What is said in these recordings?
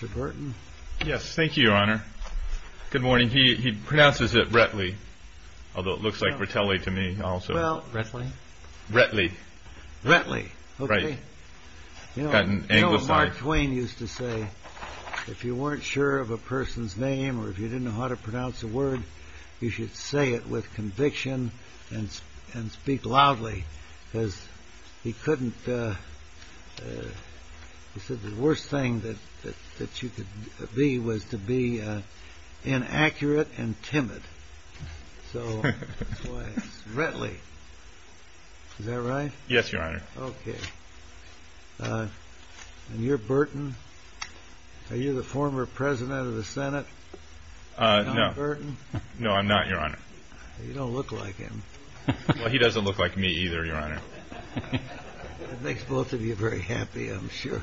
Mark Twain used to say, if you weren't sure of a person's name or if you didn't know how to pronounce a word, you should say it with conviction and speak loudly. He said the worst thing that you could be was to be inaccurate and timid. So that's why it's Rettley. Is that right? Yes, Your Honor. Okay. And you're Burton. Are you the former President of the Senate? No, I'm not, Your Honor. You don't look like him. Well, he doesn't look like me either, Your Honor. That makes both of you very happy, I'm sure.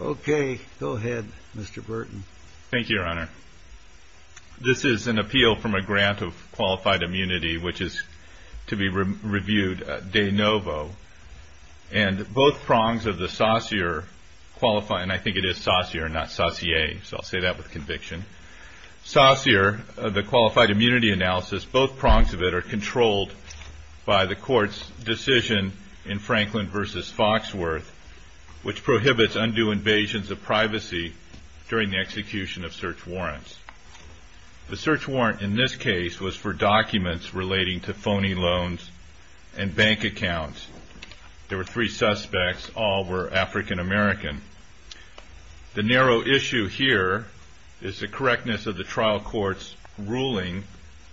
Okay, go ahead, Mr. Burton. Thank you, Your Honor. This is an appeal from a grant of qualified immunity, which is to be reviewed de novo. And both prongs of the sossier, and I think it is sossier, not sossier, so I'll say that with conviction, sossier, the qualified immunity analysis, both prongs of it are controlled by the court's decision in Franklin v. Foxworth, which prohibits undue invasions of privacy during the execution of search warrants. The search warrant in this case was for documents relating to phony loans and bank accounts. There were three suspects, all were African American. The narrow issue here is the correctness of the trial court's ruling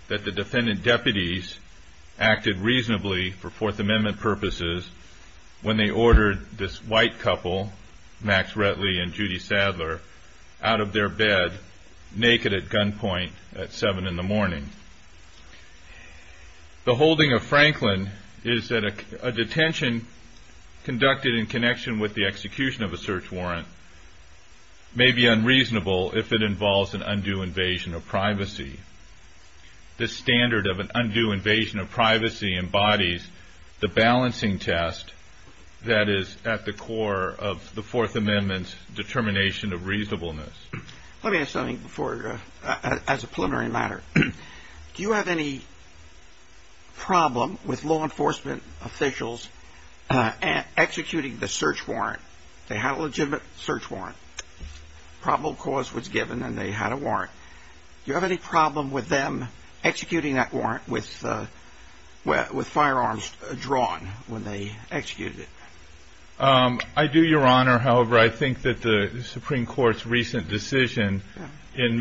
that the defendant deputies acted reasonably for Fourth Amendment purposes when they ordered this white couple, Max Rettley and Judy Sadler, out of their bed, naked at gunpoint at seven in the morning. The holding of Franklin is that a detention conducted in connection with the execution of a search warrant may be unreasonable if it involves an undue invasion of privacy. The standard of an undue invasion of privacy embodies the balancing test that is at the core of the Fourth Amendment's determination of reasonableness. Let me ask something as a preliminary matter. Do you have any problem with law enforcement officials executing the search warrant? They had a legitimate search warrant, probable cause was given, and they had a warrant. Do you have any problem with them executing that warrant with firearms drawn when they executed it? I do, Your Honor. However, I think that the Supreme Court's recent decision in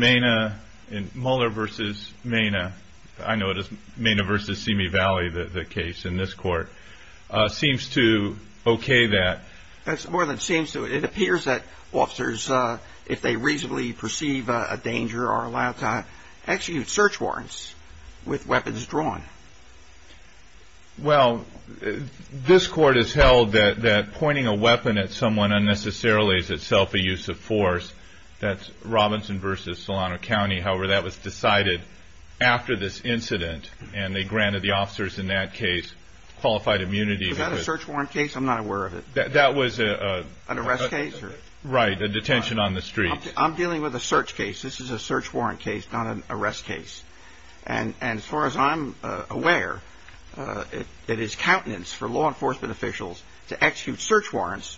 Molnar v. Mena, I know it is Mena v. Simi Valley, the case in this court, seems to okay that. It appears that officers, if they reasonably perceive a danger, are allowed to execute search warrants with weapons drawn. Well, this court has held that pointing a weapon at someone unnecessarily is itself a use of force. That's Robinson v. Solano County. However, that was decided after this incident, and they granted the officers in that case qualified immunity. Was that a search warrant case? I'm not aware of it. That was a... An arrest case? Right, a detention on the street. I'm dealing with a search case. This is a search warrant case, not an arrest case. And as far as I'm aware, it is countenance for law enforcement officials to execute search warrants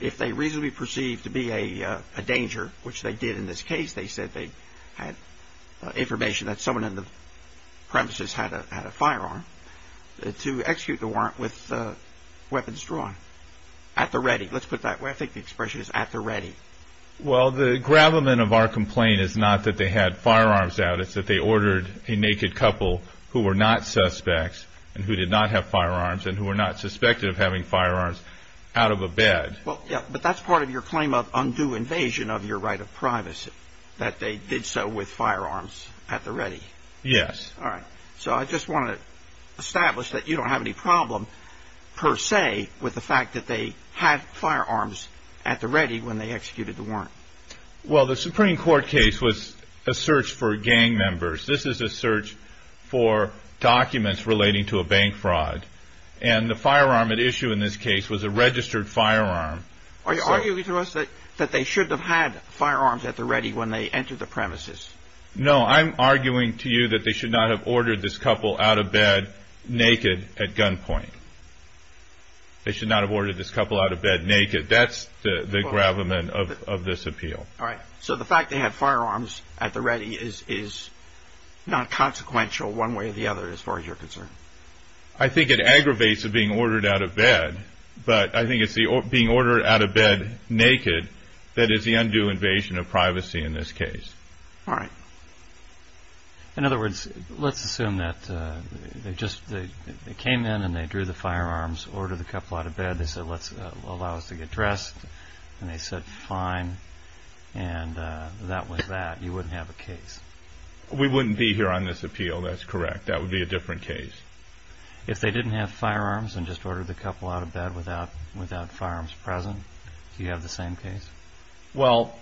if they reasonably perceive to be a danger, which they did in this case. They said they had information that someone in the premises had a firearm, to execute the warrant with weapons drawn at the ready. Let's put it that way. I think the expression is at the ready. Well, the gravamen of our complaint is not that they had firearms out. It's that they ordered a naked couple who were not suspects and who did not have firearms and who were not suspected of having firearms out of a bed. Well, yeah, but that's part of your claim of undue invasion of your right of privacy, that they did so with firearms at the ready. Yes. All right. So I just want to establish that you don't have any problem, per se, with the fact that they had firearms at the ready when they executed the warrant. Well, the Supreme Court case was a search for gang members. This is a search for documents relating to a bank fraud. And the firearm at issue in this case was a registered firearm. Are you arguing to us that they shouldn't have had firearms at the ready when they entered the premises? No, I'm arguing to you that they should not have ordered this couple out of bed naked at gunpoint. They should not have ordered this couple out of bed naked. That's the gravamen of this appeal. All right. So the fact they had firearms at the ready is not consequential one way or the other as far as you're concerned? I think it aggravates the being ordered out of bed, but I think it's being ordered out of bed naked that is the undue invasion of privacy in this case. All right. In other words, let's assume that they came in and they drew the firearms, ordered the couple out of bed, they said, let's allow us to get dressed, and they said, fine, and that was that. You wouldn't have a case. We wouldn't be here on this appeal. That's correct. That would be a different case. If they didn't have firearms and just ordered the couple out of bed without firearms present, do you have the same case? Well,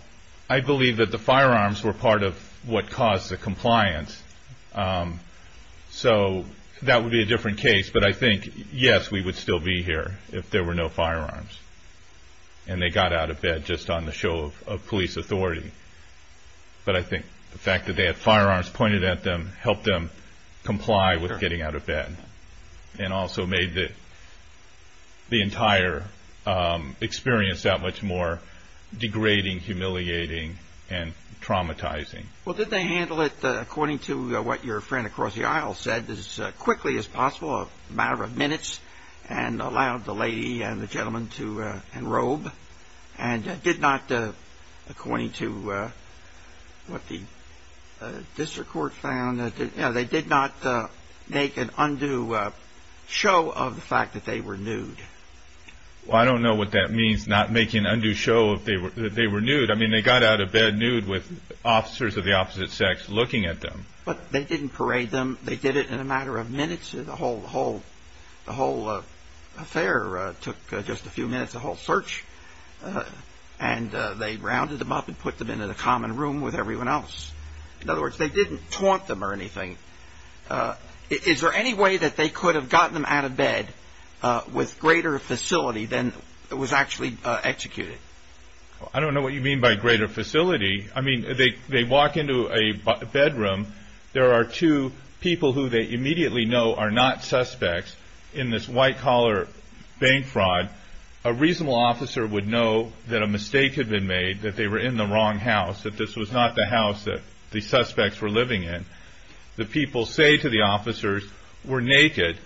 I believe that the firearms were part of what caused the compliance. So that would be a different case. But I think, yes, we would still be here if there were no firearms. And they got out of bed just on the show of police authority. But I think the fact that they had firearms pointed at them helped them comply with getting out of bed and also made the entire experience that much more degrading, humiliating, and traumatizing. Well, did they handle it according to what your friend across the aisle said, as quickly as possible, a matter of minutes, and allowed the lady and the gentleman to enrobe? And did not, according to what the district court found, they did not make an undue show of the fact that they were nude? Well, I don't know what that means, not making an undue show that they were nude. I mean, they got out of bed nude with officers of the opposite sex looking at them. But they didn't parade them. They did it in a matter of minutes. The whole affair took just a few minutes, the whole search. And they rounded them up and put them in a common room with everyone else. In other words, they didn't taunt them or anything. Is there any way that they could have gotten them out of bed with greater facility than was actually executed? I don't know what you mean by greater facility. I mean, they walk into a bedroom. There are two people who they immediately know are not suspects in this white collar bank fraud. A reasonable officer would know that a mistake had been made, that they were in the wrong house, that this was not the house that the suspects were living in. The people say to the officers, we're naked.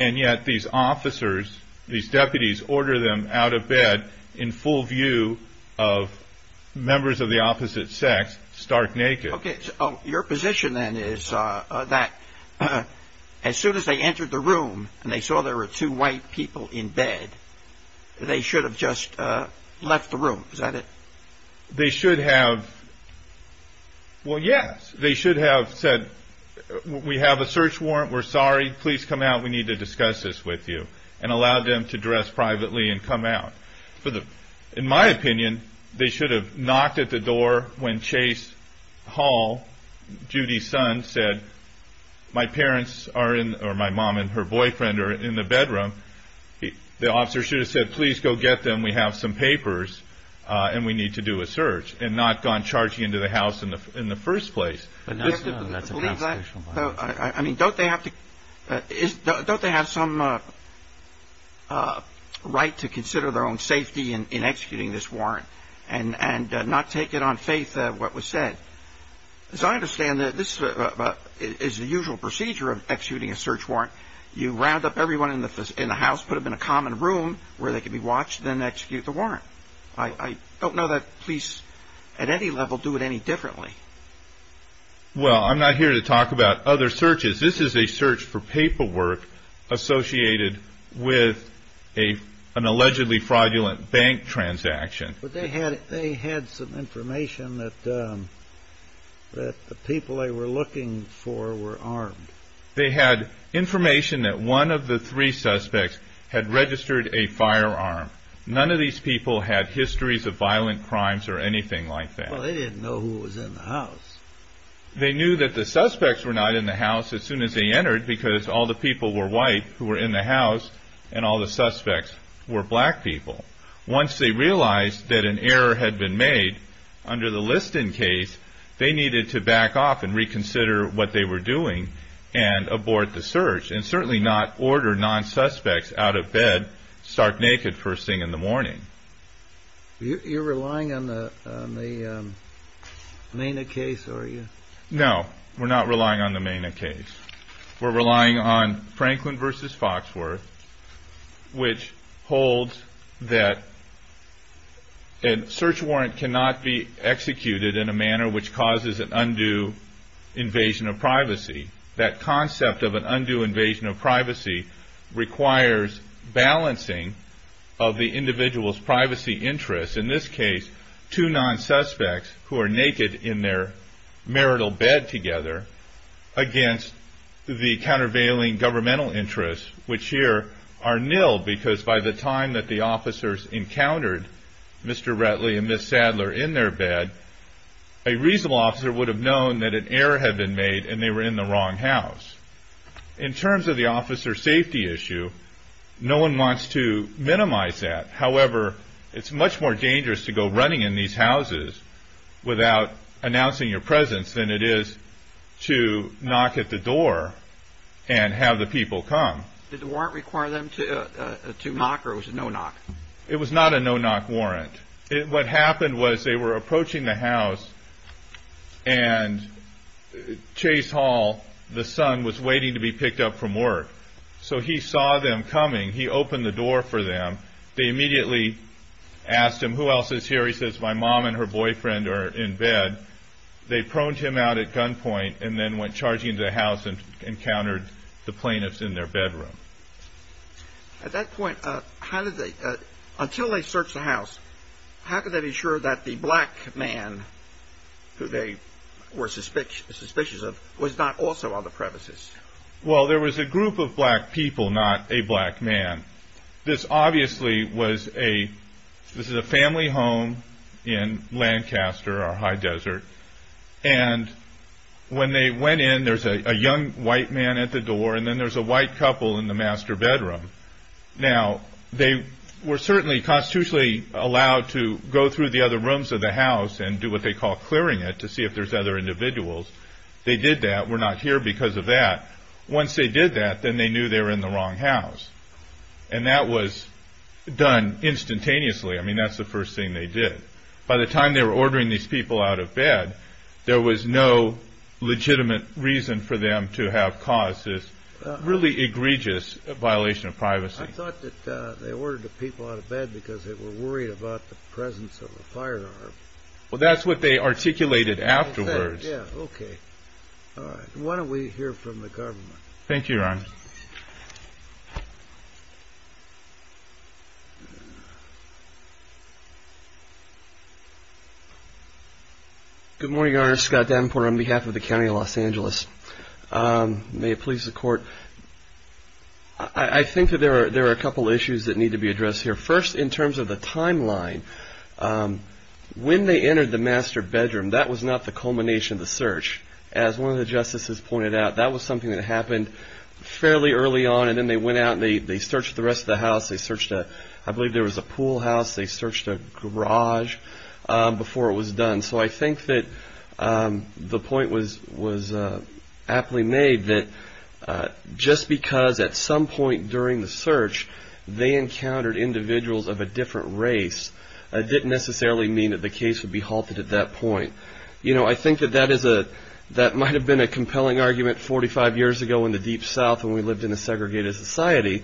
And yet these officers, these deputies order them out of bed in full view of members of the opposite sex stark naked. Okay. So your position then is that as soon as they entered the room and they saw there were two white people in bed, they should have just left the room. Is that it? They should have, well, yes. They should have said, we have a search warrant. We're sorry. Please come out. We need to discuss this with you. And allowed them to dress privately and come out. In my opinion, they should have knocked at the door when Chase Hall, Judy's son, said, my parents are in, or my mom and her boyfriend are in the bedroom. The officer should have said, please go get them. We have some papers and we need to do a search and not gone charging into the house in the first place. I mean, don't they have some right to consider their own safety in executing this warrant and not take it on faith what was said? As I understand it, this is the usual procedure of executing a search warrant. You round up everyone in the house, put them in a common room where they can be watched, then execute the warrant. I don't know that police at any level do it any differently. Well, I'm not here to talk about other searches. This is a search for paperwork associated with an allegedly fraudulent bank transaction. But they had some information that the people they were looking for were armed. They had information that one of the three suspects had registered a firearm. None of these people had histories of violent crimes or anything like that. Well, they didn't know who was in the house. They knew that the suspects were not in the house as soon as they entered because all the people were white who were in the house and all the suspects were black people. Once they realized that an error had been made under the Liston case, they needed to back off and reconsider what they were doing and abort the search and certainly not order non-suspects out of bed stark naked first thing in the morning. You're relying on the MENA case, are you? No, we're not relying on the MENA case. We're relying on Franklin v. Foxworth, which holds that a search warrant cannot be executed in a manner which causes an undue invasion of privacy. That concept of an undue invasion of privacy requires balancing of the individual's privacy interests. In this case, two non-suspects who are naked in their marital bed together against the countervailing governmental interests, which here are nil because by the time that the officers encountered Mr. Rettly and Ms. Sadler in their bed, a reasonable officer would have known that an error had been made and they were in the wrong house. In terms of the officer safety issue, no one wants to minimize that. However, it's much more dangerous to go running in these houses without announcing your presence than it is to knock at the door and have the people come. Did the warrant require them to knock or was it no knock? It was not a no knock warrant. What happened was they were approaching the house and Chase Hall, the son, was waiting to be picked up from work. So he saw them coming. He opened the door for them. They immediately asked him, who else is here? He says, my mom and her boyfriend are in bed. They proned him out at gunpoint and then went charging into the house and encountered the plaintiffs in their bedroom. At that point, until they searched the house, how could they be sure that the black man who they were suspicious of was not also on the premises? Well, there was a group of black people, not a black man. This obviously was a family home in Lancaster, our high desert. And when they went in, there's a young white man at the door and then there's a white couple in the master bedroom. Now, they were certainly constitutionally allowed to go through the other rooms of the house and do what they call clearing it to see if there's other individuals. They did that. We're not here because of that. Once they did that, then they knew they were in the wrong house. And that was done instantaneously. I mean, that's the first thing they did. By the time they were ordering these people out of bed, there was no legitimate reason for them to have caused this really egregious violation of privacy. I thought that they ordered the people out of bed because they were worried about the presence of a firearm. Well, that's what they articulated afterwards. Okay. Why don't we hear from the government? Thank you, Ron. Good morning, Your Honor. Scott Davenport on behalf of the County of Los Angeles. May it please the Court. I think that there are a couple issues that need to be addressed here. First, in terms of the timeline, when they entered the master bedroom, that was not the culmination of the search. As one of the justices pointed out, that was something that happened fairly early on. And then they went out and they searched the rest of the house. They searched a – I believe there was a pool house. They searched a garage before it was done. So I think that the point was aptly made that just because at some point during the search they encountered individuals of a different race, it didn't necessarily mean that the case would be halted at that point. You know, I think that that is a – that might have been a compelling argument 45 years ago in the Deep South when we lived in a segregated society.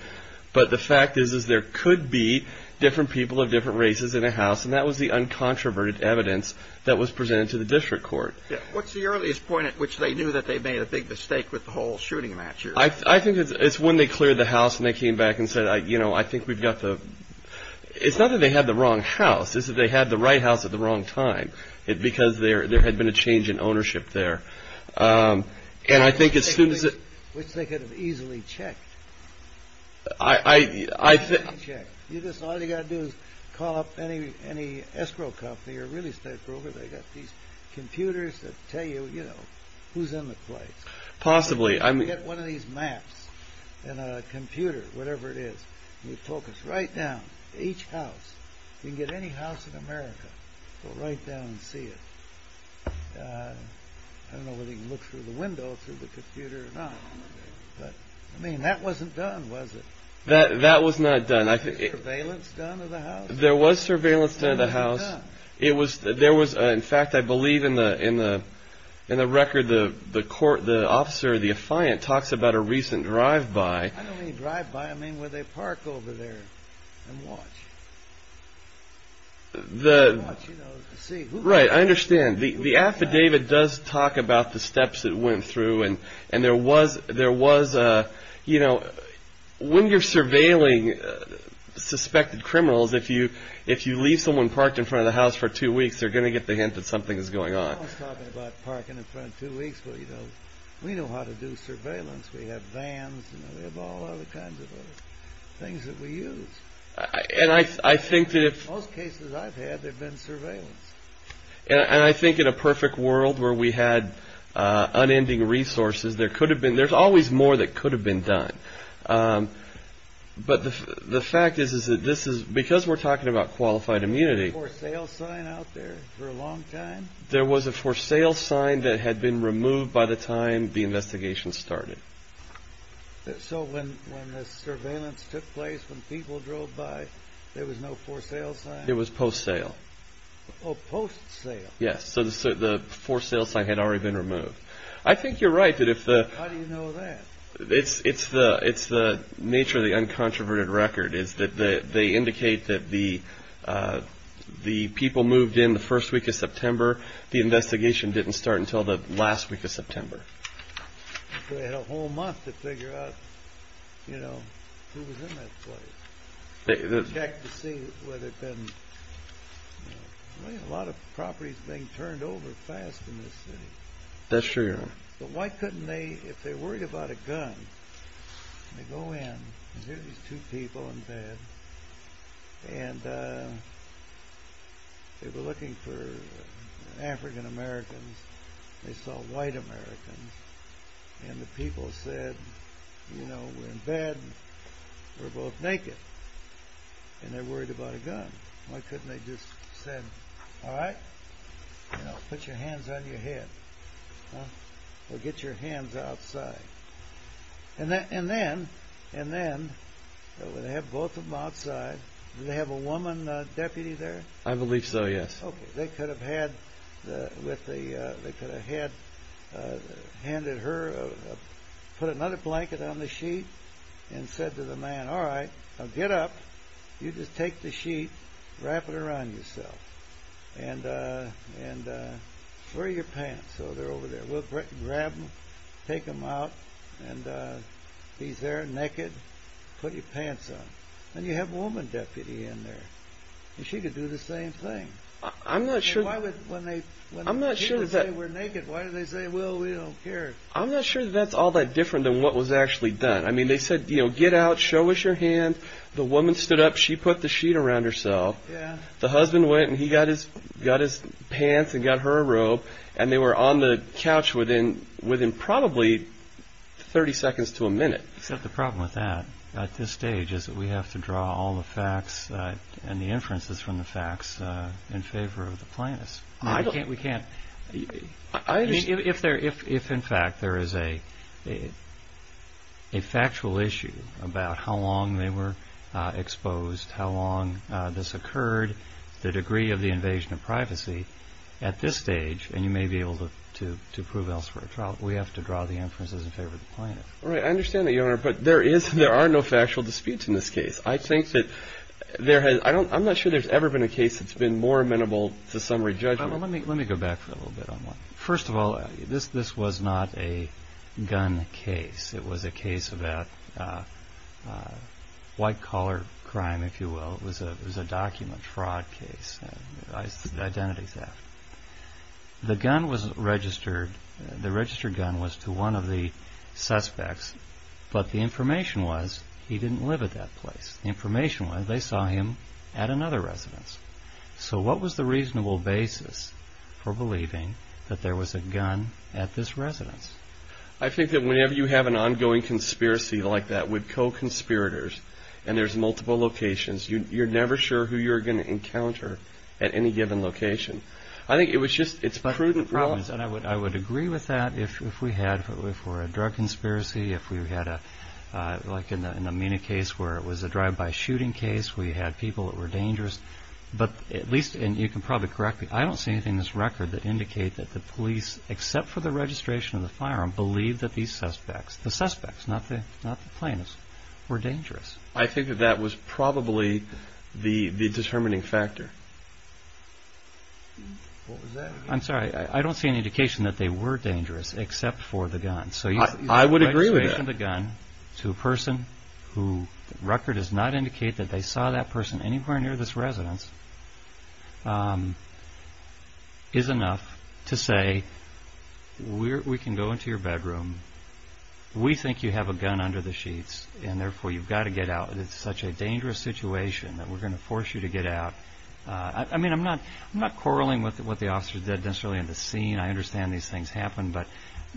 But the fact is, is there could be different people of different races in a house. And that was the uncontroverted evidence that was presented to the district court. What's the earliest point at which they knew that they made a big mistake with the whole shooting match? I think it's when they cleared the house and they came back and said, you know, I think we've got the – it's not that they had the wrong house. It's that they had the right house at the wrong time because there had been a change in ownership there. And I think as soon as it – Which they could have easily checked. I – Easily checked. All you've got to do is call up any escrow company or real estate broker. They've got these computers that tell you, you know, who's in the place. Possibly. Get one of these maps and a computer, whatever it is, and you focus right down, each house. You can get any house in America. Go right down and see it. I don't know whether you can look through the window through the computer or not. But, I mean, that wasn't done, was it? That was not done. Was there surveillance done of the house? There was surveillance done of the house. It was – there was – in fact, I believe in the record, the court – the officer, the affiant, talks about a recent drive-by. I don't mean drive-by. I mean where they park over there and watch. The – And watch, you know, to see who – Right, I understand. The affidavit does talk about the steps it went through. And there was – there was, you know, when you're surveilling suspected criminals, if you leave someone parked in front of the house for two weeks, they're going to get the hint that something is going on. I was talking about parking in front two weeks. Well, you know, we know how to do surveillance. We have vans and we have all other kinds of things that we use. And I think that if – And I think in a perfect world where we had unending resources, there could have been – there's always more that could have been done. But the fact is that this is – because we're talking about qualified immunity – Was there a for-sale sign out there for a long time? There was a for-sale sign that had been removed by the time the investigation started. So when the surveillance took place, when people drove by, there was no for-sale sign? It was post-sale. Oh, post-sale. Yes, so the for-sale sign had already been removed. I think you're right that if the – How do you know that? It's the nature of the uncontroverted record is that they indicate that the people moved in the first week of September. The investigation didn't start until the last week of September. So they had a whole month to figure out, you know, who was in that place. They checked to see whether it had been – I mean, a lot of property is being turned over fast in this city. That's true, yeah. But why couldn't they – if they worried about a gun, they go in, and here are these two people in bed, and they were looking for African-Americans, they saw white Americans, and the people said, you know, we're in bed, we're both naked, and they're worried about a gun. Why couldn't they just say, all right, you know, put your hands on your head, or get your hands outside? And then they have both of them outside. Did they have a woman deputy there? I believe so, yes. Okay, they could have had – they could have handed her – put another blanket on the sheet and said to the man, all right, now get up. You just take the sheet, wrap it around yourself, and wear your pants. So they're over there. We'll grab them, take them out, and he's there naked. Put your pants on. And you have a woman deputy in there, and she could do the same thing. I'm not sure – I mean, why would – when they – I'm not sure that – She could say we're naked. Why did they say, well, we don't care? I'm not sure that that's all that different than what was actually done. I mean, they said, you know, get out, show us your hands. The woman stood up. She put the sheet around herself. Yeah. The husband went, and he got his pants and got her a robe, and they were on the couch within probably 30 seconds to a minute. Except the problem with that at this stage is that we have to draw all the facts and the inferences from the facts in favor of the plaintiffs. I don't – We can't – I understand – I mean, if in fact there is a factual issue about how long they were exposed, how long this occurred, the degree of the invasion of privacy, at this stage, and you may be able to prove elsewhere a trial, we have to draw the inferences in favor of the plaintiffs. Right. I understand that, Your Honor, but there are no factual disputes in this case. I think that there has – I'm not sure there's ever been a case that's been more amenable to summary judgment. Let me go back for a little bit on that. First of all, this was not a gun case. It was a case about white-collar crime, if you will. It was a document fraud case, identity theft. The gun was registered. The registered gun was to one of the suspects, but the information was he didn't live at that place. The information was they saw him at another residence. So what was the reasonable basis for believing that there was a gun at this residence? I think that whenever you have an ongoing conspiracy like that with co-conspirators and there's multiple locations, you're never sure who you're going to encounter at any given location. I think it was just – it's prudent. I would agree with that if we had – if it were a drug conspiracy, if we had like an Amina case where it was a drive-by shooting case, we had people that were dangerous. But at least – and you can probably correct me. I don't see anything in this record that indicate that the police, except for the registration of the firearm, believe that these suspects – the suspects, not the plaintiffs – were dangerous. I think that that was probably the determining factor. What was that again? I'm sorry. I don't see any indication that they were dangerous, except for the gun. I would agree with that. So the registration of the gun to a person who – the record does not indicate that they saw that person anywhere near this residence – is enough to say we can go into your bedroom. We think you have a gun under the sheets, and therefore you've got to get out. It's such a dangerous situation that we're going to force you to get out. I mean, I'm not quarreling with what the officers did necessarily in the scene. I understand these things happen.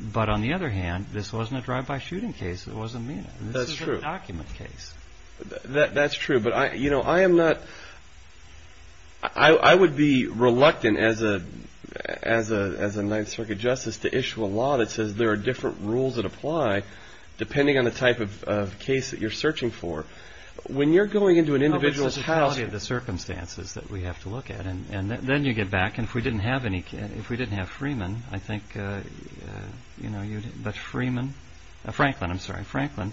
But on the other hand, this wasn't a drive-by shooting case. It wasn't Amina. That's true. This is a document case. That's true. But, you know, I am not – I would be reluctant as a Ninth Circuit justice to issue a law that says there are different rules that apply, depending on the type of case that you're searching for. When you're going into an individual's house – No, but it's the quality of the circumstances that we have to look at. And then you get back, and if we didn't have Freeman, I think – you know, but Freeman – Franklin, I'm sorry. Franklin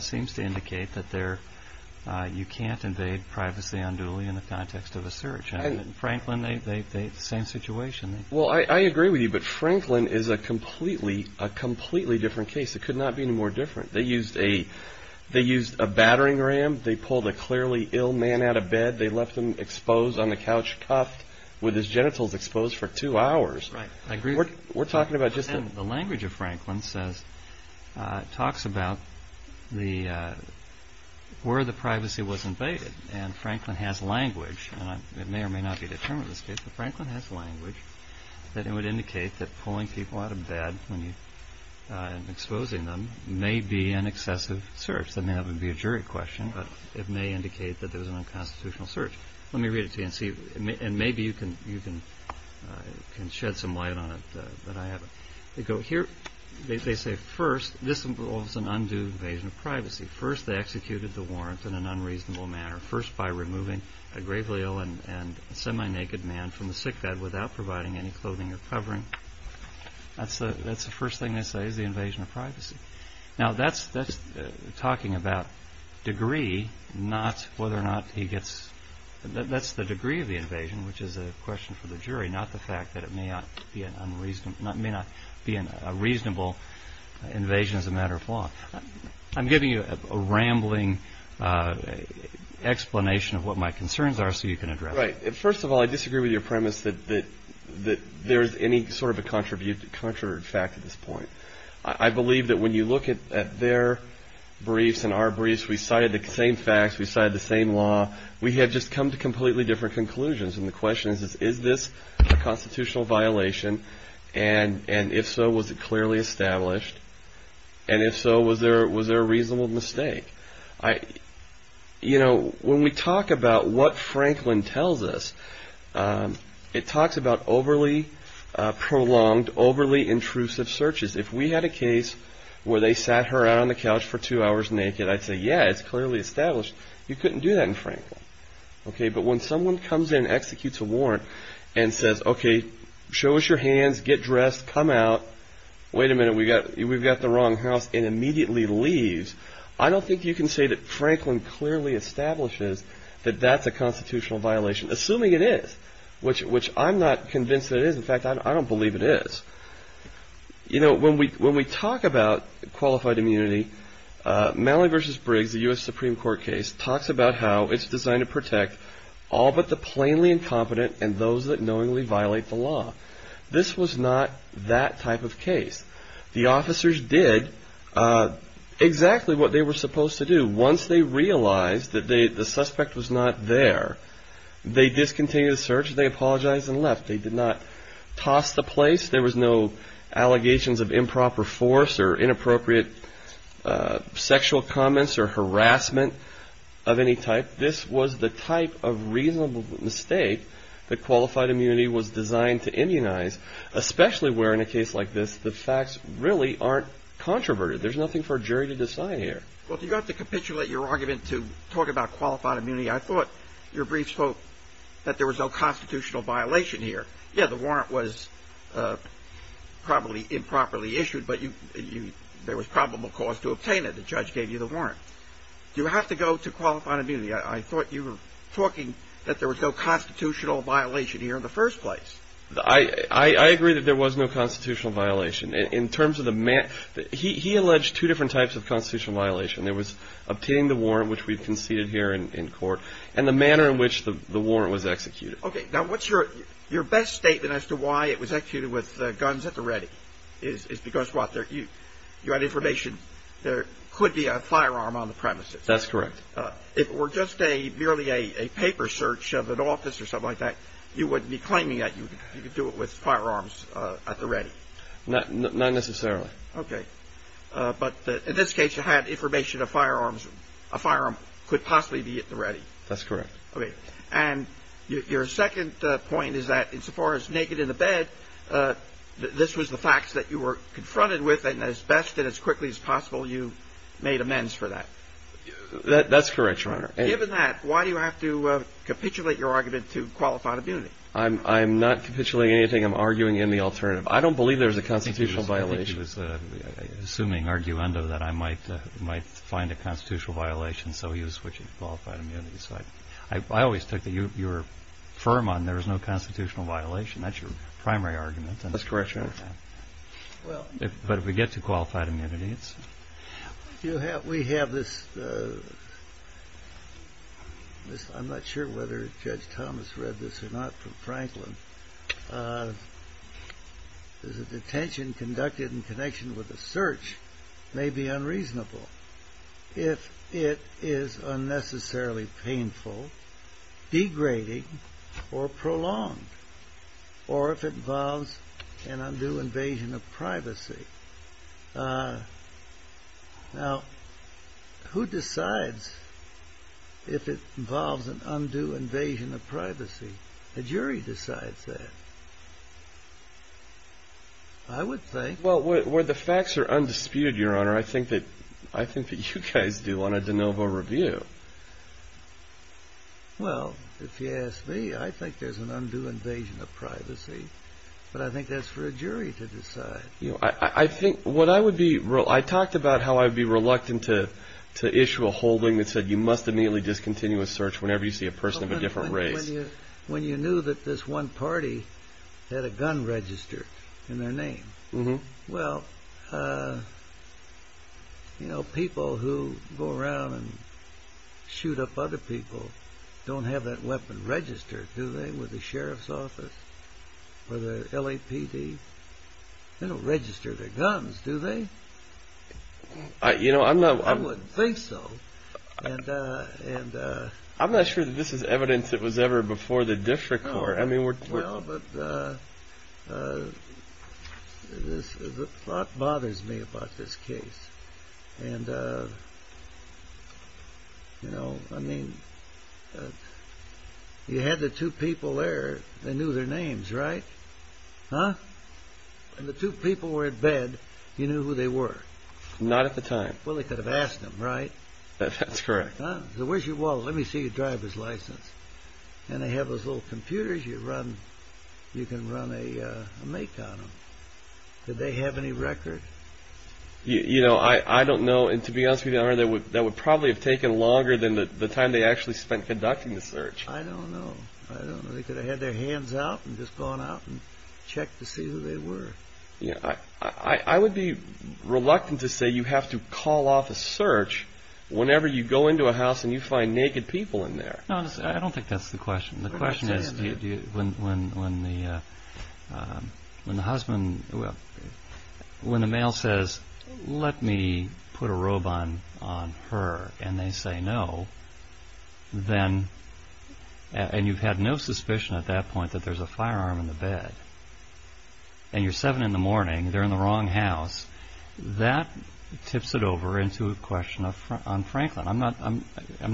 seems to indicate that there – you can't invade privacy unduly in the context of a search. And Franklin, the same situation. Well, I agree with you, but Franklin is a completely different case. It could not be any more different. They used a battering ram. They pulled a clearly ill man out of bed. They left him exposed on the couch, cuffed, with his genitals exposed for two hours. Right. I agree. We're talking about just – The language of Franklin says – talks about where the privacy was invaded. And Franklin has language. And it may or may not be the term of the case, but Franklin has language that it would indicate that pulling people out of bed when you're exposing them may be an excessive search. I mean, that would be a jury question, but it may indicate that there was an unconstitutional search. Let me read it to you and see – and maybe you can shed some light on it, but I haven't. They go here – they say, first, this involves an undue invasion of privacy. First, they executed the warrant in an unreasonable manner. First, by removing a gravely ill and semi-naked man from the sickbed without providing any clothing or covering. That's the first thing they say is the invasion of privacy. Now, that's talking about degree, not whether or not he gets – that's the degree of the invasion, which is a question for the jury, not the fact that it may not be a reasonable invasion as a matter of law. I'm giving you a rambling explanation of what my concerns are so you can address it. Right. First of all, I disagree with your premise that there is any sort of a contrary fact at this point. I believe that when you look at their briefs and our briefs, we cited the same facts, we cited the same law. We have just come to completely different conclusions, and the question is, is this a constitutional violation? And if so, was it clearly established? And if so, was there a reasonable mistake? You know, when we talk about what Franklin tells us, it talks about overly prolonged, overly intrusive searches. If we had a case where they sat her out on the couch for two hours naked, I'd say, yeah, it's clearly established. You couldn't do that in Franklin. Okay, but when someone comes in, executes a warrant, and says, okay, show us your hands, get dressed, come out, wait a minute, we've got the wrong house, and immediately leaves, I don't think you can say that Franklin clearly establishes that that's a constitutional violation, assuming it is, which I'm not convinced that it is. In fact, I don't believe it is. You know, when we talk about qualified immunity, Malley v. Briggs, the U.S. Supreme Court case, talks about how it's designed to protect all but the plainly incompetent and those that knowingly violate the law. This was not that type of case. The officers did exactly what they were supposed to do. Once they realized that the suspect was not there, they discontinued the search, they apologized, and left. They did not toss the place. There was no allegations of improper force or inappropriate sexual comments or harassment of any type. I don't believe that this was the type of reasonable mistake that qualified immunity was designed to immunize, especially where in a case like this, the facts really aren't controverted. There's nothing for a jury to decide here. Well, you have to capitulate your argument to talk about qualified immunity. I thought your brief spoke that there was no constitutional violation here. Yeah, the warrant was probably improperly issued, but there was probable cause to obtain it. The judge gave you the warrant. You have to go to qualified immunity. I thought you were talking that there was no constitutional violation here in the first place. I agree that there was no constitutional violation. He alleged two different types of constitutional violation. There was obtaining the warrant, which we've conceded here in court, and the manner in which the warrant was executed. Okay, now what's your best statement as to why it was executed with guns at the ready? Well, the first point is because what? You had information there could be a firearm on the premises. That's correct. If it were just merely a paper search of an office or something like that, you wouldn't be claiming that you could do it with firearms at the ready. Not necessarily. Okay. But in this case, you had information a firearm could possibly be at the ready. That's correct. Okay. And your second point is that insofar as naked in the bed, this was the facts that you were confronted with, and as best and as quickly as possible you made amends for that. That's correct, Your Honor. Given that, why do you have to capitulate your argument to qualified immunity? I'm not capitulating anything. I'm arguing in the alternative. I don't believe there was a constitutional violation. I think he was assuming arguendo that I might find a constitutional violation, so he was switching to qualified immunity. So I always took your firm on there was no constitutional violation. That's your primary argument. That's correct, Your Honor. But if we get to qualified immunity, it's… We have this. I'm not sure whether Judge Thomas read this or not from Franklin. The detention conducted in connection with a search may be unreasonable if it is unnecessarily painful, degrading, or prolonged, or if it involves an undue invasion of privacy. Now, who decides if it involves an undue invasion of privacy? The jury decides that, I would think. Well, where the facts are undisputed, Your Honor, I think that you guys do on a de novo review. Well, if you ask me, I think there's an undue invasion of privacy, but I think that's for a jury to decide. I think what I would be… I talked about how I would be reluctant to issue a holding that said, you must immediately discontinue a search whenever you see a person of a different race. When you knew that this one party had a gun registered in their name, well, you know, people who go around and shoot up other people don't have that weapon registered, do they, with the sheriff's office or the LAPD? They don't register their guns, do they? You know, I'm not… I wouldn't think so. I'm not sure that this is evidence that was ever before the district court. Well, but the thought bothers me about this case. And, you know, I mean, you had the two people there. They knew their names, right? Huh? When the two people were in bed, you knew who they were? Not at the time. Well, they could have asked them, right? That's correct. Where's your wallet? Let me see your driver's license. And they have those little computers you run. You can run a make on them. Did they have any record? You know, I don't know. And to be honest with you, that would probably have taken longer than the time they actually spent conducting the search. I don't know. I don't know. They could have had their hands out and just gone out and checked to see who they were. I would be reluctant to say you have to call off a search whenever you go into a house and you find naked people in there. No, I don't think that's the question. The question is, when the husband, when the male says, let me put a robe on her, and they say no, then, and you've had no suspicion at that point that there's a firearm in the bed, and you're seven in the morning, they're in the wrong house, that tips it over into a question on Franklin. I'm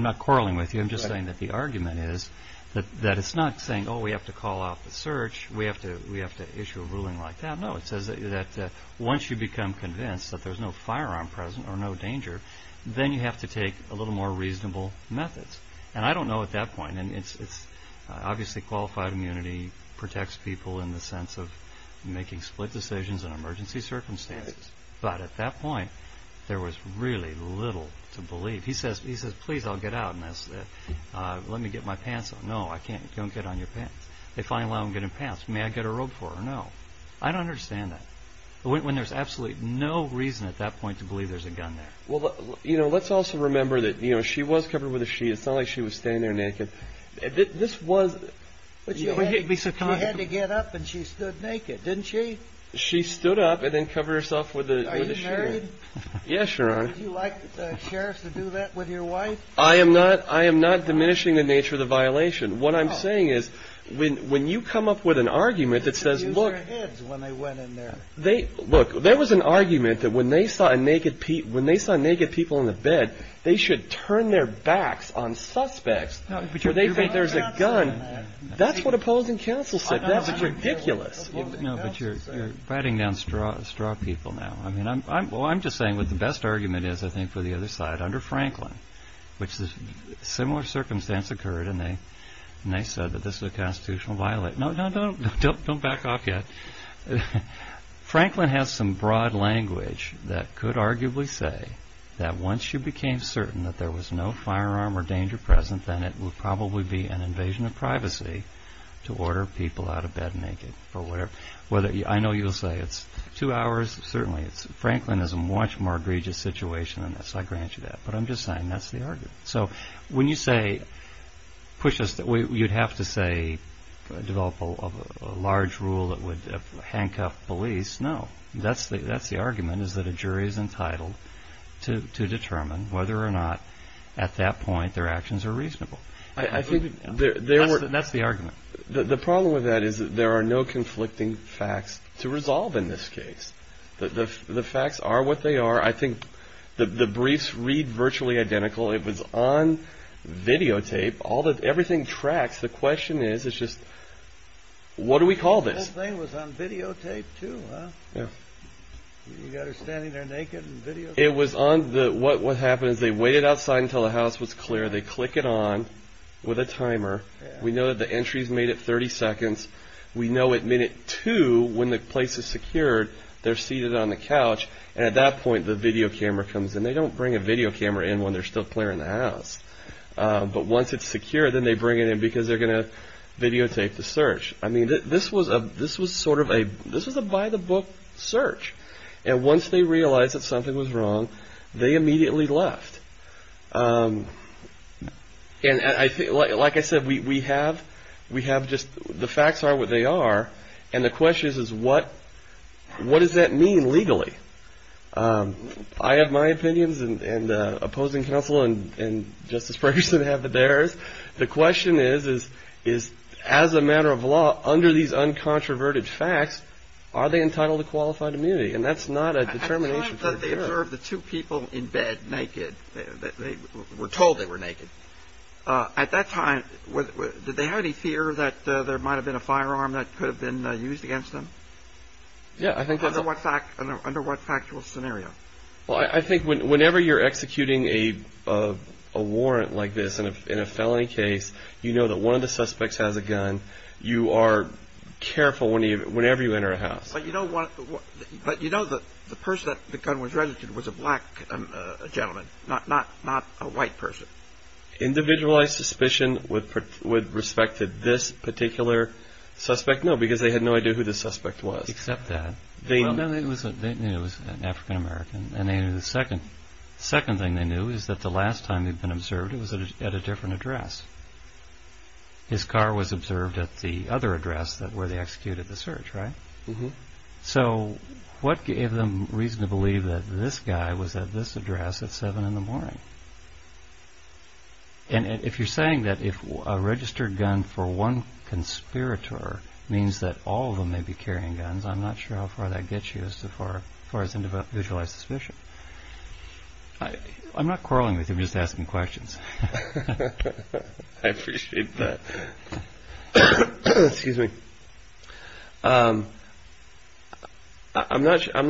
not quarreling with you. I'm just saying that the argument is that it's not saying, oh, we have to call off the search, we have to issue a ruling like that. No, it says that once you become convinced that there's no firearm present or no danger, then you have to take a little more reasonable methods. And I don't know at that point. Obviously, qualified immunity protects people in the sense of making split decisions in emergency circumstances. But at that point, there was really little to believe. He says, please, I'll get out. Let me get my pants on. No, don't get on your pants. If I allow him to get in pants, may I get a robe for her? No. I don't understand that. When there's absolutely no reason at that point to believe there's a gun there. Let's also remember that she was covered with a sheet. It's not like she was standing there naked. This was. But you had to get up and she stood naked, didn't she? She stood up and then covered herself with a sheet. Are you married? Yes, Your Honor. Would you like the sheriff to do that with your wife? I am not. I am not diminishing the nature of the violation. What I'm saying is when you come up with an argument that says, look. You should have used your heads when they went in there. Look, there was an argument that when they saw naked people in the bed, they should turn their backs on suspects where they think there's a gun. That's what opposing counsel said. That's ridiculous. No, but you're biting down straw people now. I mean, I'm just saying what the best argument is, I think, for the other side. Under Franklin, which a similar circumstance occurred, and they said that this was a constitutional violation. No, no, don't back off yet. Franklin has some broad language that could arguably say that once you became certain that there was no firearm or danger present, then it would probably be an invasion of privacy to order people out of bed naked. I know you'll say it's two hours. Certainly, Franklin is a much more egregious situation than this. I grant you that. But I'm just saying that's the argument. So when you say you'd have to say develop a large rule that would handcuff police, no, that's the argument is that a jury is entitled to determine whether or not at that point their actions are reasonable. That's the argument. The problem with that is there are no conflicting facts to resolve in this case. The facts are what they are. I think the briefs read virtually identical. It was on videotape. Everything tracks. The question is, it's just, what do we call this? The whole thing was on videotape, too, huh? Yeah. You got her standing there naked in videotape. It was on the – what happens, they waited outside until the house was clear. They click it on with a timer. We know that the entry is made at 30 seconds. We know at minute two, when the place is secured, they're seated on the couch, and at that point the video camera comes in. They don't bring a video camera in when they're still clearing the house. But once it's secure, then they bring it in because they're going to videotape the search. I mean, this was sort of a by-the-book search. And once they realized that something was wrong, they immediately left. Like I said, we have just – the facts are what they are, and the question is, what does that mean legally? I have my opinions, and opposing counsel and Justice Ferguson have theirs. The question is, as a matter of law, under these uncontroverted facts, are they entitled to qualified immunity? And that's not a determination for the jury. At the time that they observed the two people in bed naked, they were told they were naked, at that time did they have any fear that there might have been a firearm that could have been used against them? Yeah, I think that's – Under what factual scenario? Well, I think whenever you're executing a warrant like this in a felony case, you know that one of the suspects has a gun. You are careful whenever you enter a house. But you know that the person that the gun was registered with was a black gentleman, not a white person. Individualized suspicion with respect to this particular suspect, no, because they had no idea who the suspect was. They didn't accept that. They knew it was an African-American, and the second thing they knew was that the last time they'd been observed it was at a different address. His car was observed at the other address where they executed the search, right? So what gave them reason to believe that this guy was at this address at 7 in the morning? And if you're saying that a registered gun for one conspirator means that all of them may be carrying guns, I'm not sure how far that gets you as far as individualized suspicion. I'm not quarreling with you. I'm just asking questions. I appreciate that. Excuse me. I'm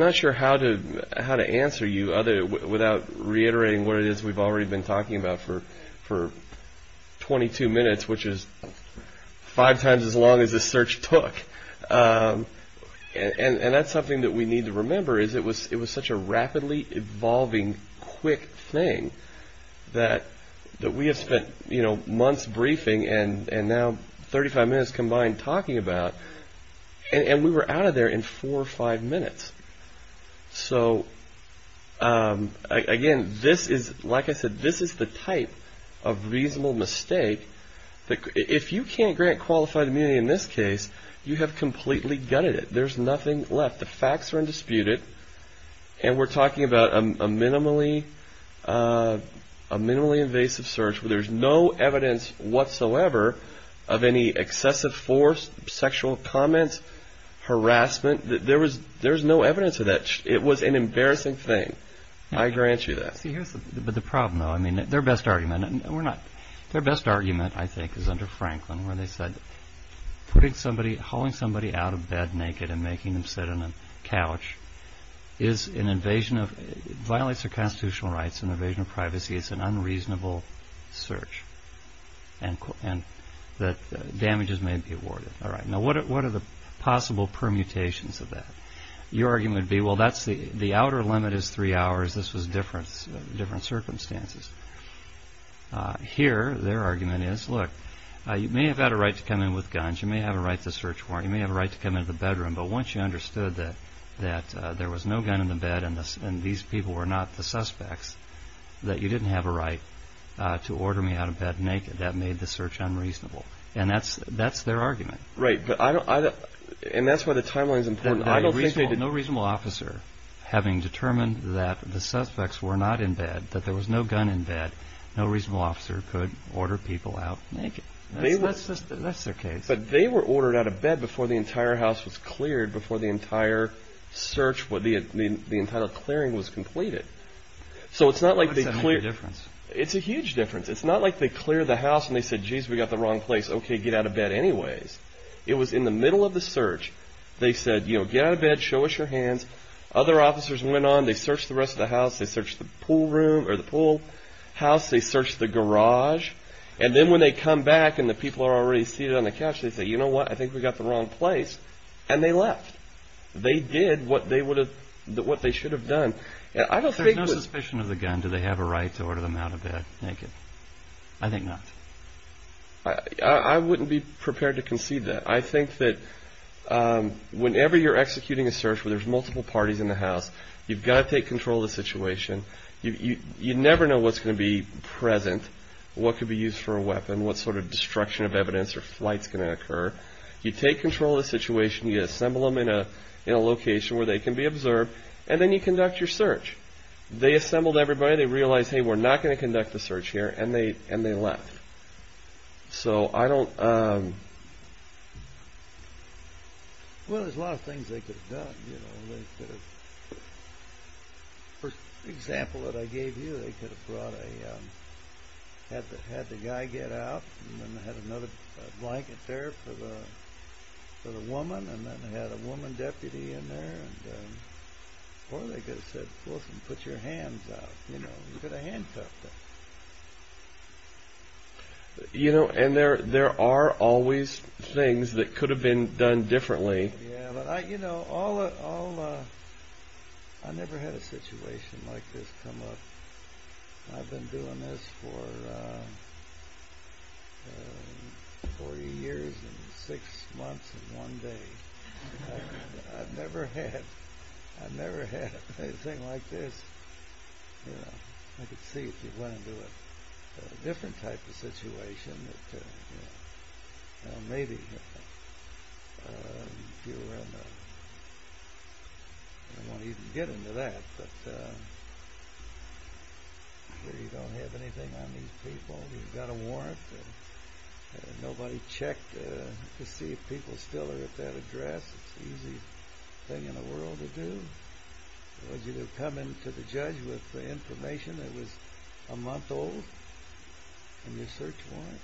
not sure how to answer you without reiterating what it is we've already been talking about for 22 minutes, which is five times as long as the search took. And that's something that we need to remember, is it was such a rapidly evolving, quick thing that we have spent months briefing and now 35 minutes combined talking about, and we were out of there in four or five minutes. So again, like I said, this is the type of reasonable mistake. If you can't grant qualified immunity in this case, you have completely gutted it. There's nothing left. The facts are undisputed. And we're talking about a minimally invasive search where there's no evidence whatsoever of any excessive force, sexual comments, harassment. There's no evidence of that. It was an embarrassing thing. I grant you that. See, here's the problem, though. Their best argument, I think, is under Franklin, where they said hauling somebody out of bed naked and making them sit on a couch violates their constitutional rights. An invasion of privacy is an unreasonable search, and damages may be awarded. All right, now what are the possible permutations of that? Your argument would be, well, the outer limit is three hours. This was different circumstances. Here, their argument is, look, you may have had a right to come in with guns. You may have a right to a search warrant. You may have a right to come into the bedroom. But once you understood that there was no gun in the bed and these people were not the suspects, that you didn't have a right to order me out of bed naked, that made the search unreasonable. And that's their argument. Right, and that's why the timeline is important. No reasonable officer, having determined that the suspects were not in bed, that there was no gun in bed, no reasonable officer could order people out naked. That's their case. But they were ordered out of bed before the entire house was cleared, before the entire search, the entire clearing was completed. So it's not like they cleared... What's the difference? It's a huge difference. It's not like they cleared the house and they said, geez, we got the wrong place, okay, get out of bed anyways. It was in the middle of the search. They said, you know, get out of bed, show us your hands. Other officers went on. They searched the rest of the house. They searched the pool room or the pool house. They searched the garage. And then when they come back and the people are already seated on the couch, they say, you know what, I think we got the wrong place. And they left. They did what they should have done. There's no suspicion of the gun. And do they have a right to order them out of bed naked? I think not. I wouldn't be prepared to concede that. I think that whenever you're executing a search where there's multiple parties in the house, you've got to take control of the situation. You never know what's going to be present, what could be used for a weapon, what sort of destruction of evidence or flights can occur. You take control of the situation. You assemble them in a location where they can be observed. And then you conduct your search. They assembled everybody. They realized, hey, we're not going to conduct the search here. And they left. So I don't... Well, there's a lot of things they could have done. You know, they could have... For example that I gave you, they could have brought a... had the guy get out. And then they had another blanket there for the woman. And then they had a woman deputy in there. Or they could have said, Wilson, put your hands out. You know, you could have handcuffed her. You know, and there are always things that could have been done differently. Yeah, but I, you know, all... I never had a situation like this come up. I've been doing this for... 40 years and six months and one day. I've never had... I've never had anything like this. You know, I could see if you went into a different type of situation that, you know... Well, maybe... If you were in a... I don't want to even get into that, but... I'm sure you don't have anything on these people. You've got a warrant. Nobody checked to see if people still are at that address. It's the easiest thing in the world to do. It was either coming to the judge with the information that was a month old. And your search warrant.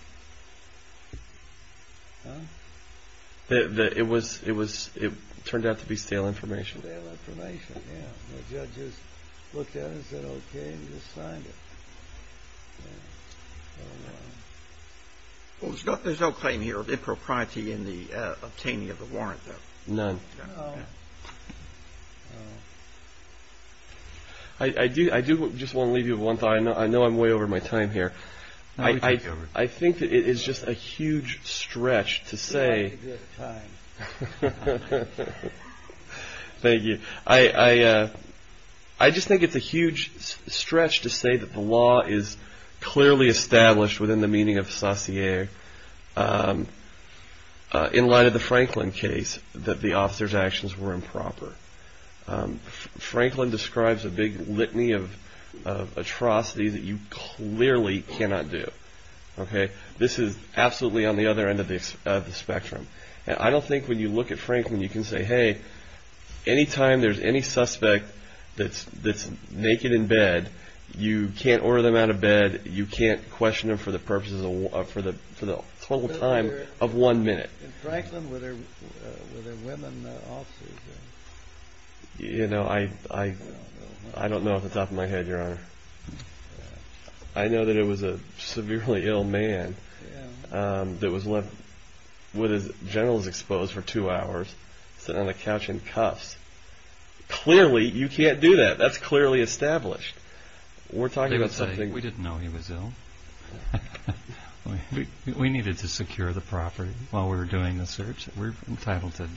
Huh? It was... It turned out to be stale information. Stale information, yeah. The judge just looked at it and said, okay, and just signed it. I don't know. Well, there's no claim here of impropriety in the obtaining of the warrant, though. None. I do just want to leave you with one thought. I know I'm way over my time here. I think that it is just a huge stretch to say... Thank you. I just think it's a huge stretch to say that the law is clearly established within the meaning of sacier in light of the Franklin case that the officer's actions were improper. Franklin describes a big litany of atrocities that you clearly cannot do. This is absolutely on the other end of the spectrum. I don't think when you look at Franklin you can say, hey, anytime there's any suspect that's naked in bed, you can't order them out of bed. You can't question them for the purposes of... for the total time of one minute. In Franklin, were there women officers? You know, I don't know off the top of my head, Your Honor. I know that it was a severely ill man that was left with his genitals exposed for two hours, sitting on the couch in cuffs. Clearly, you can't do that. That's clearly established. We're talking about something... We didn't know he was ill. We needed to secure the property while we were doing the search. We're entitled to...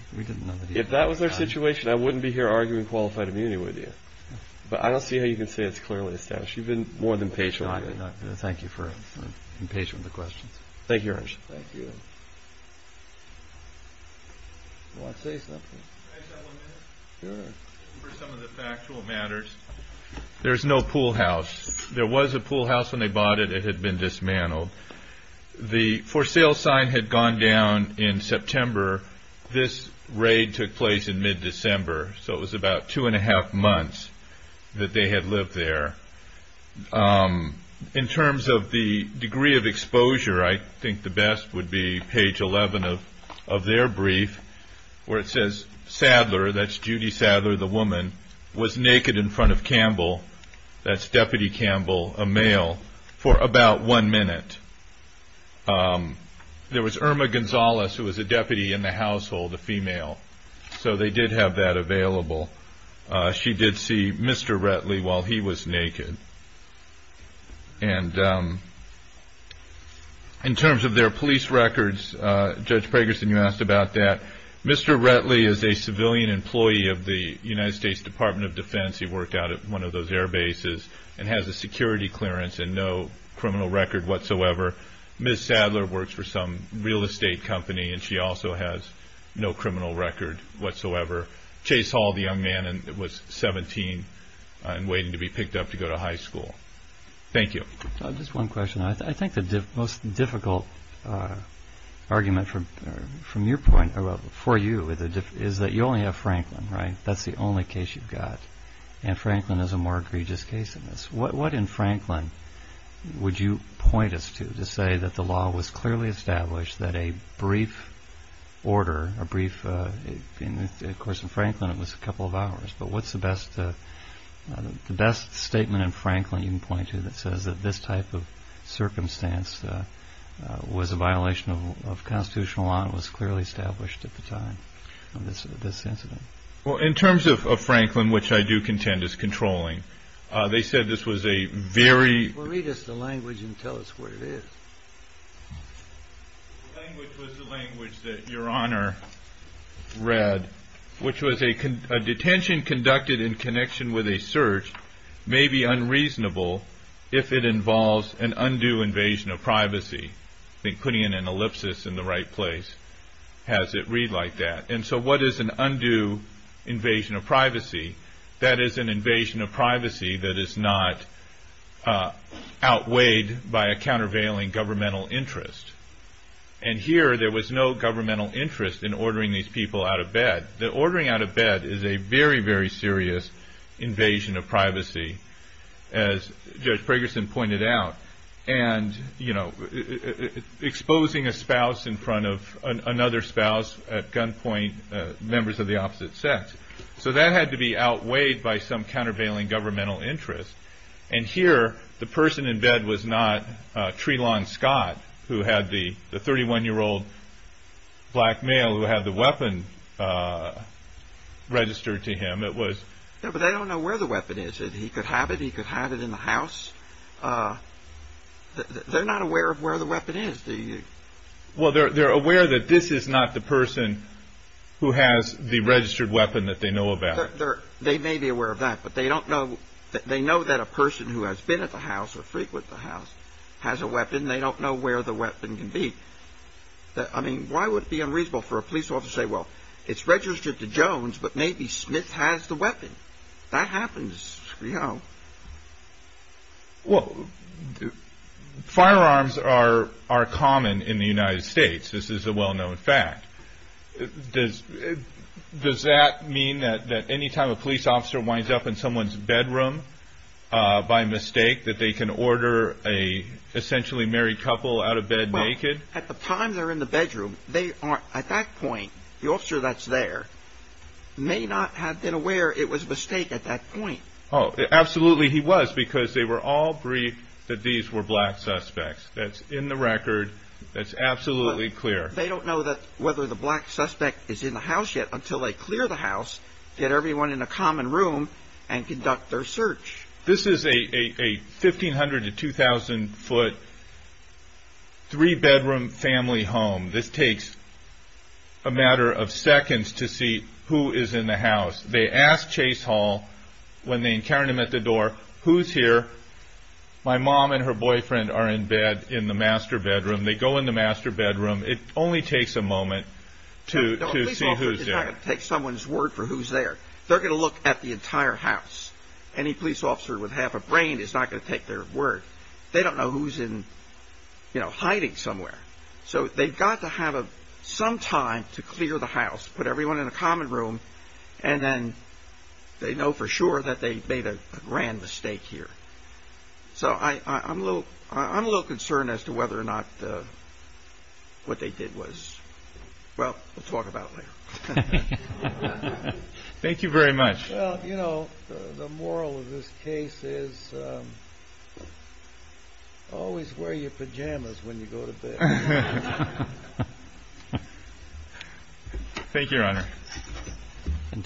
If that was our situation, I wouldn't be here arguing qualified immunity with you. But I don't see how you can say it's clearly established. You've been more than patient with me. Thank you for being patient with the questions. Thank you, Your Honor. Thank you. Can I just have one minute? Sure. For some of the factual matters. There's no pool house. There was a pool house when they bought it. It had been dismantled. The for sale sign had gone down in September. This raid took place in mid-December. So it was about two and a half months that they had lived there. In terms of the degree of exposure, I think the best would be page 11 of their brief, where it says Sadler, that's Judy Sadler, the woman, was naked in front of Campbell, that's Deputy Campbell, a male, for about one minute. There was Irma Gonzalez, who was a deputy in the household, a female. So they did have that available. She did see Mr. Retley while he was naked. And in terms of their police records, Judge Pragerson, you asked about that. Mr. Retley is a civilian employee of the United States Department of Defense. He worked out at one of those air bases and has a security clearance and no criminal record whatsoever. Ms. Sadler works for some real estate company, and she also has no criminal record whatsoever. Chase Hall, the young man, was 17 and waiting to be picked up to go to high school. Thank you. Just one question. I think the most difficult argument for you is that you only have Franklin, right? That's the only case you've got. And Franklin is a more egregious case than this. What in Franklin would you point us to to say that the law was clearly established, that a brief order, of course, in Franklin it was a couple of hours, but what's the best statement in Franklin you can point to that says that this type of circumstance was a violation of constitutional law and was clearly established at the time of this incident? Well, in terms of Franklin, which I do contend is controlling, they said this was a very— The language was the language that Your Honor read, which was a detention conducted in connection with a search may be unreasonable if it involves an undue invasion of privacy. I think putting in an ellipsis in the right place has it read like that. And so what is an undue invasion of privacy? That is an invasion of privacy that is not outweighed by a countervailing governmental interest. And here there was no governmental interest in ordering these people out of bed. The ordering out of bed is a very, very serious invasion of privacy, as Judge Ferguson pointed out, and exposing a spouse in front of another spouse at gunpoint, members of the opposite sex. So that had to be outweighed by some countervailing governmental interest. And here the person in bed was not Trelon Scott, who had the 31-year-old black male who had the weapon registered to him. No, but they don't know where the weapon is. He could have it, he could hide it in the house. They're not aware of where the weapon is, do you? Well, they're aware that this is not the person who has the registered weapon that they know about. They may be aware of that, but they know that a person who has been at the house or frequent the house has a weapon. They don't know where the weapon can be. I mean, why would it be unreasonable for a police officer to say, well, it's registered to Jones, but maybe Smith has the weapon? That happens, you know. Well, firearms are common in the United States. This is a well-known fact. Does that mean that any time a police officer winds up in someone's bedroom by mistake, that they can order an essentially married couple out of bed naked? Well, at the time they're in the bedroom, at that point, the officer that's there may not have been aware it was a mistake at that point. Oh, absolutely he was, because they were all briefed that these were black suspects. That's in the record. That's absolutely clear. They don't know whether the black suspect is in the house yet until they clear the house, get everyone in a common room, and conduct their search. This is a 1,500 to 2,000-foot, three-bedroom family home. They ask Chase Hall, when they encounter him at the door, who's here? My mom and her boyfriend are in bed in the master bedroom. They go in the master bedroom. It only takes a moment to see who's there. A police officer is not going to take someone's word for who's there. They're going to look at the entire house. Any police officer with half a brain is not going to take their word. They don't know who's hiding somewhere. So they've got to have some time to clear the house, put everyone in a common room, and then they know for sure that they made a grand mistake here. So I'm a little concerned as to whether or not what they did was—well, we'll talk about it later. Thank you very much. Well, you know, the moral of this case is always wear your pajamas when you go to bed. Thank you, Your Honor.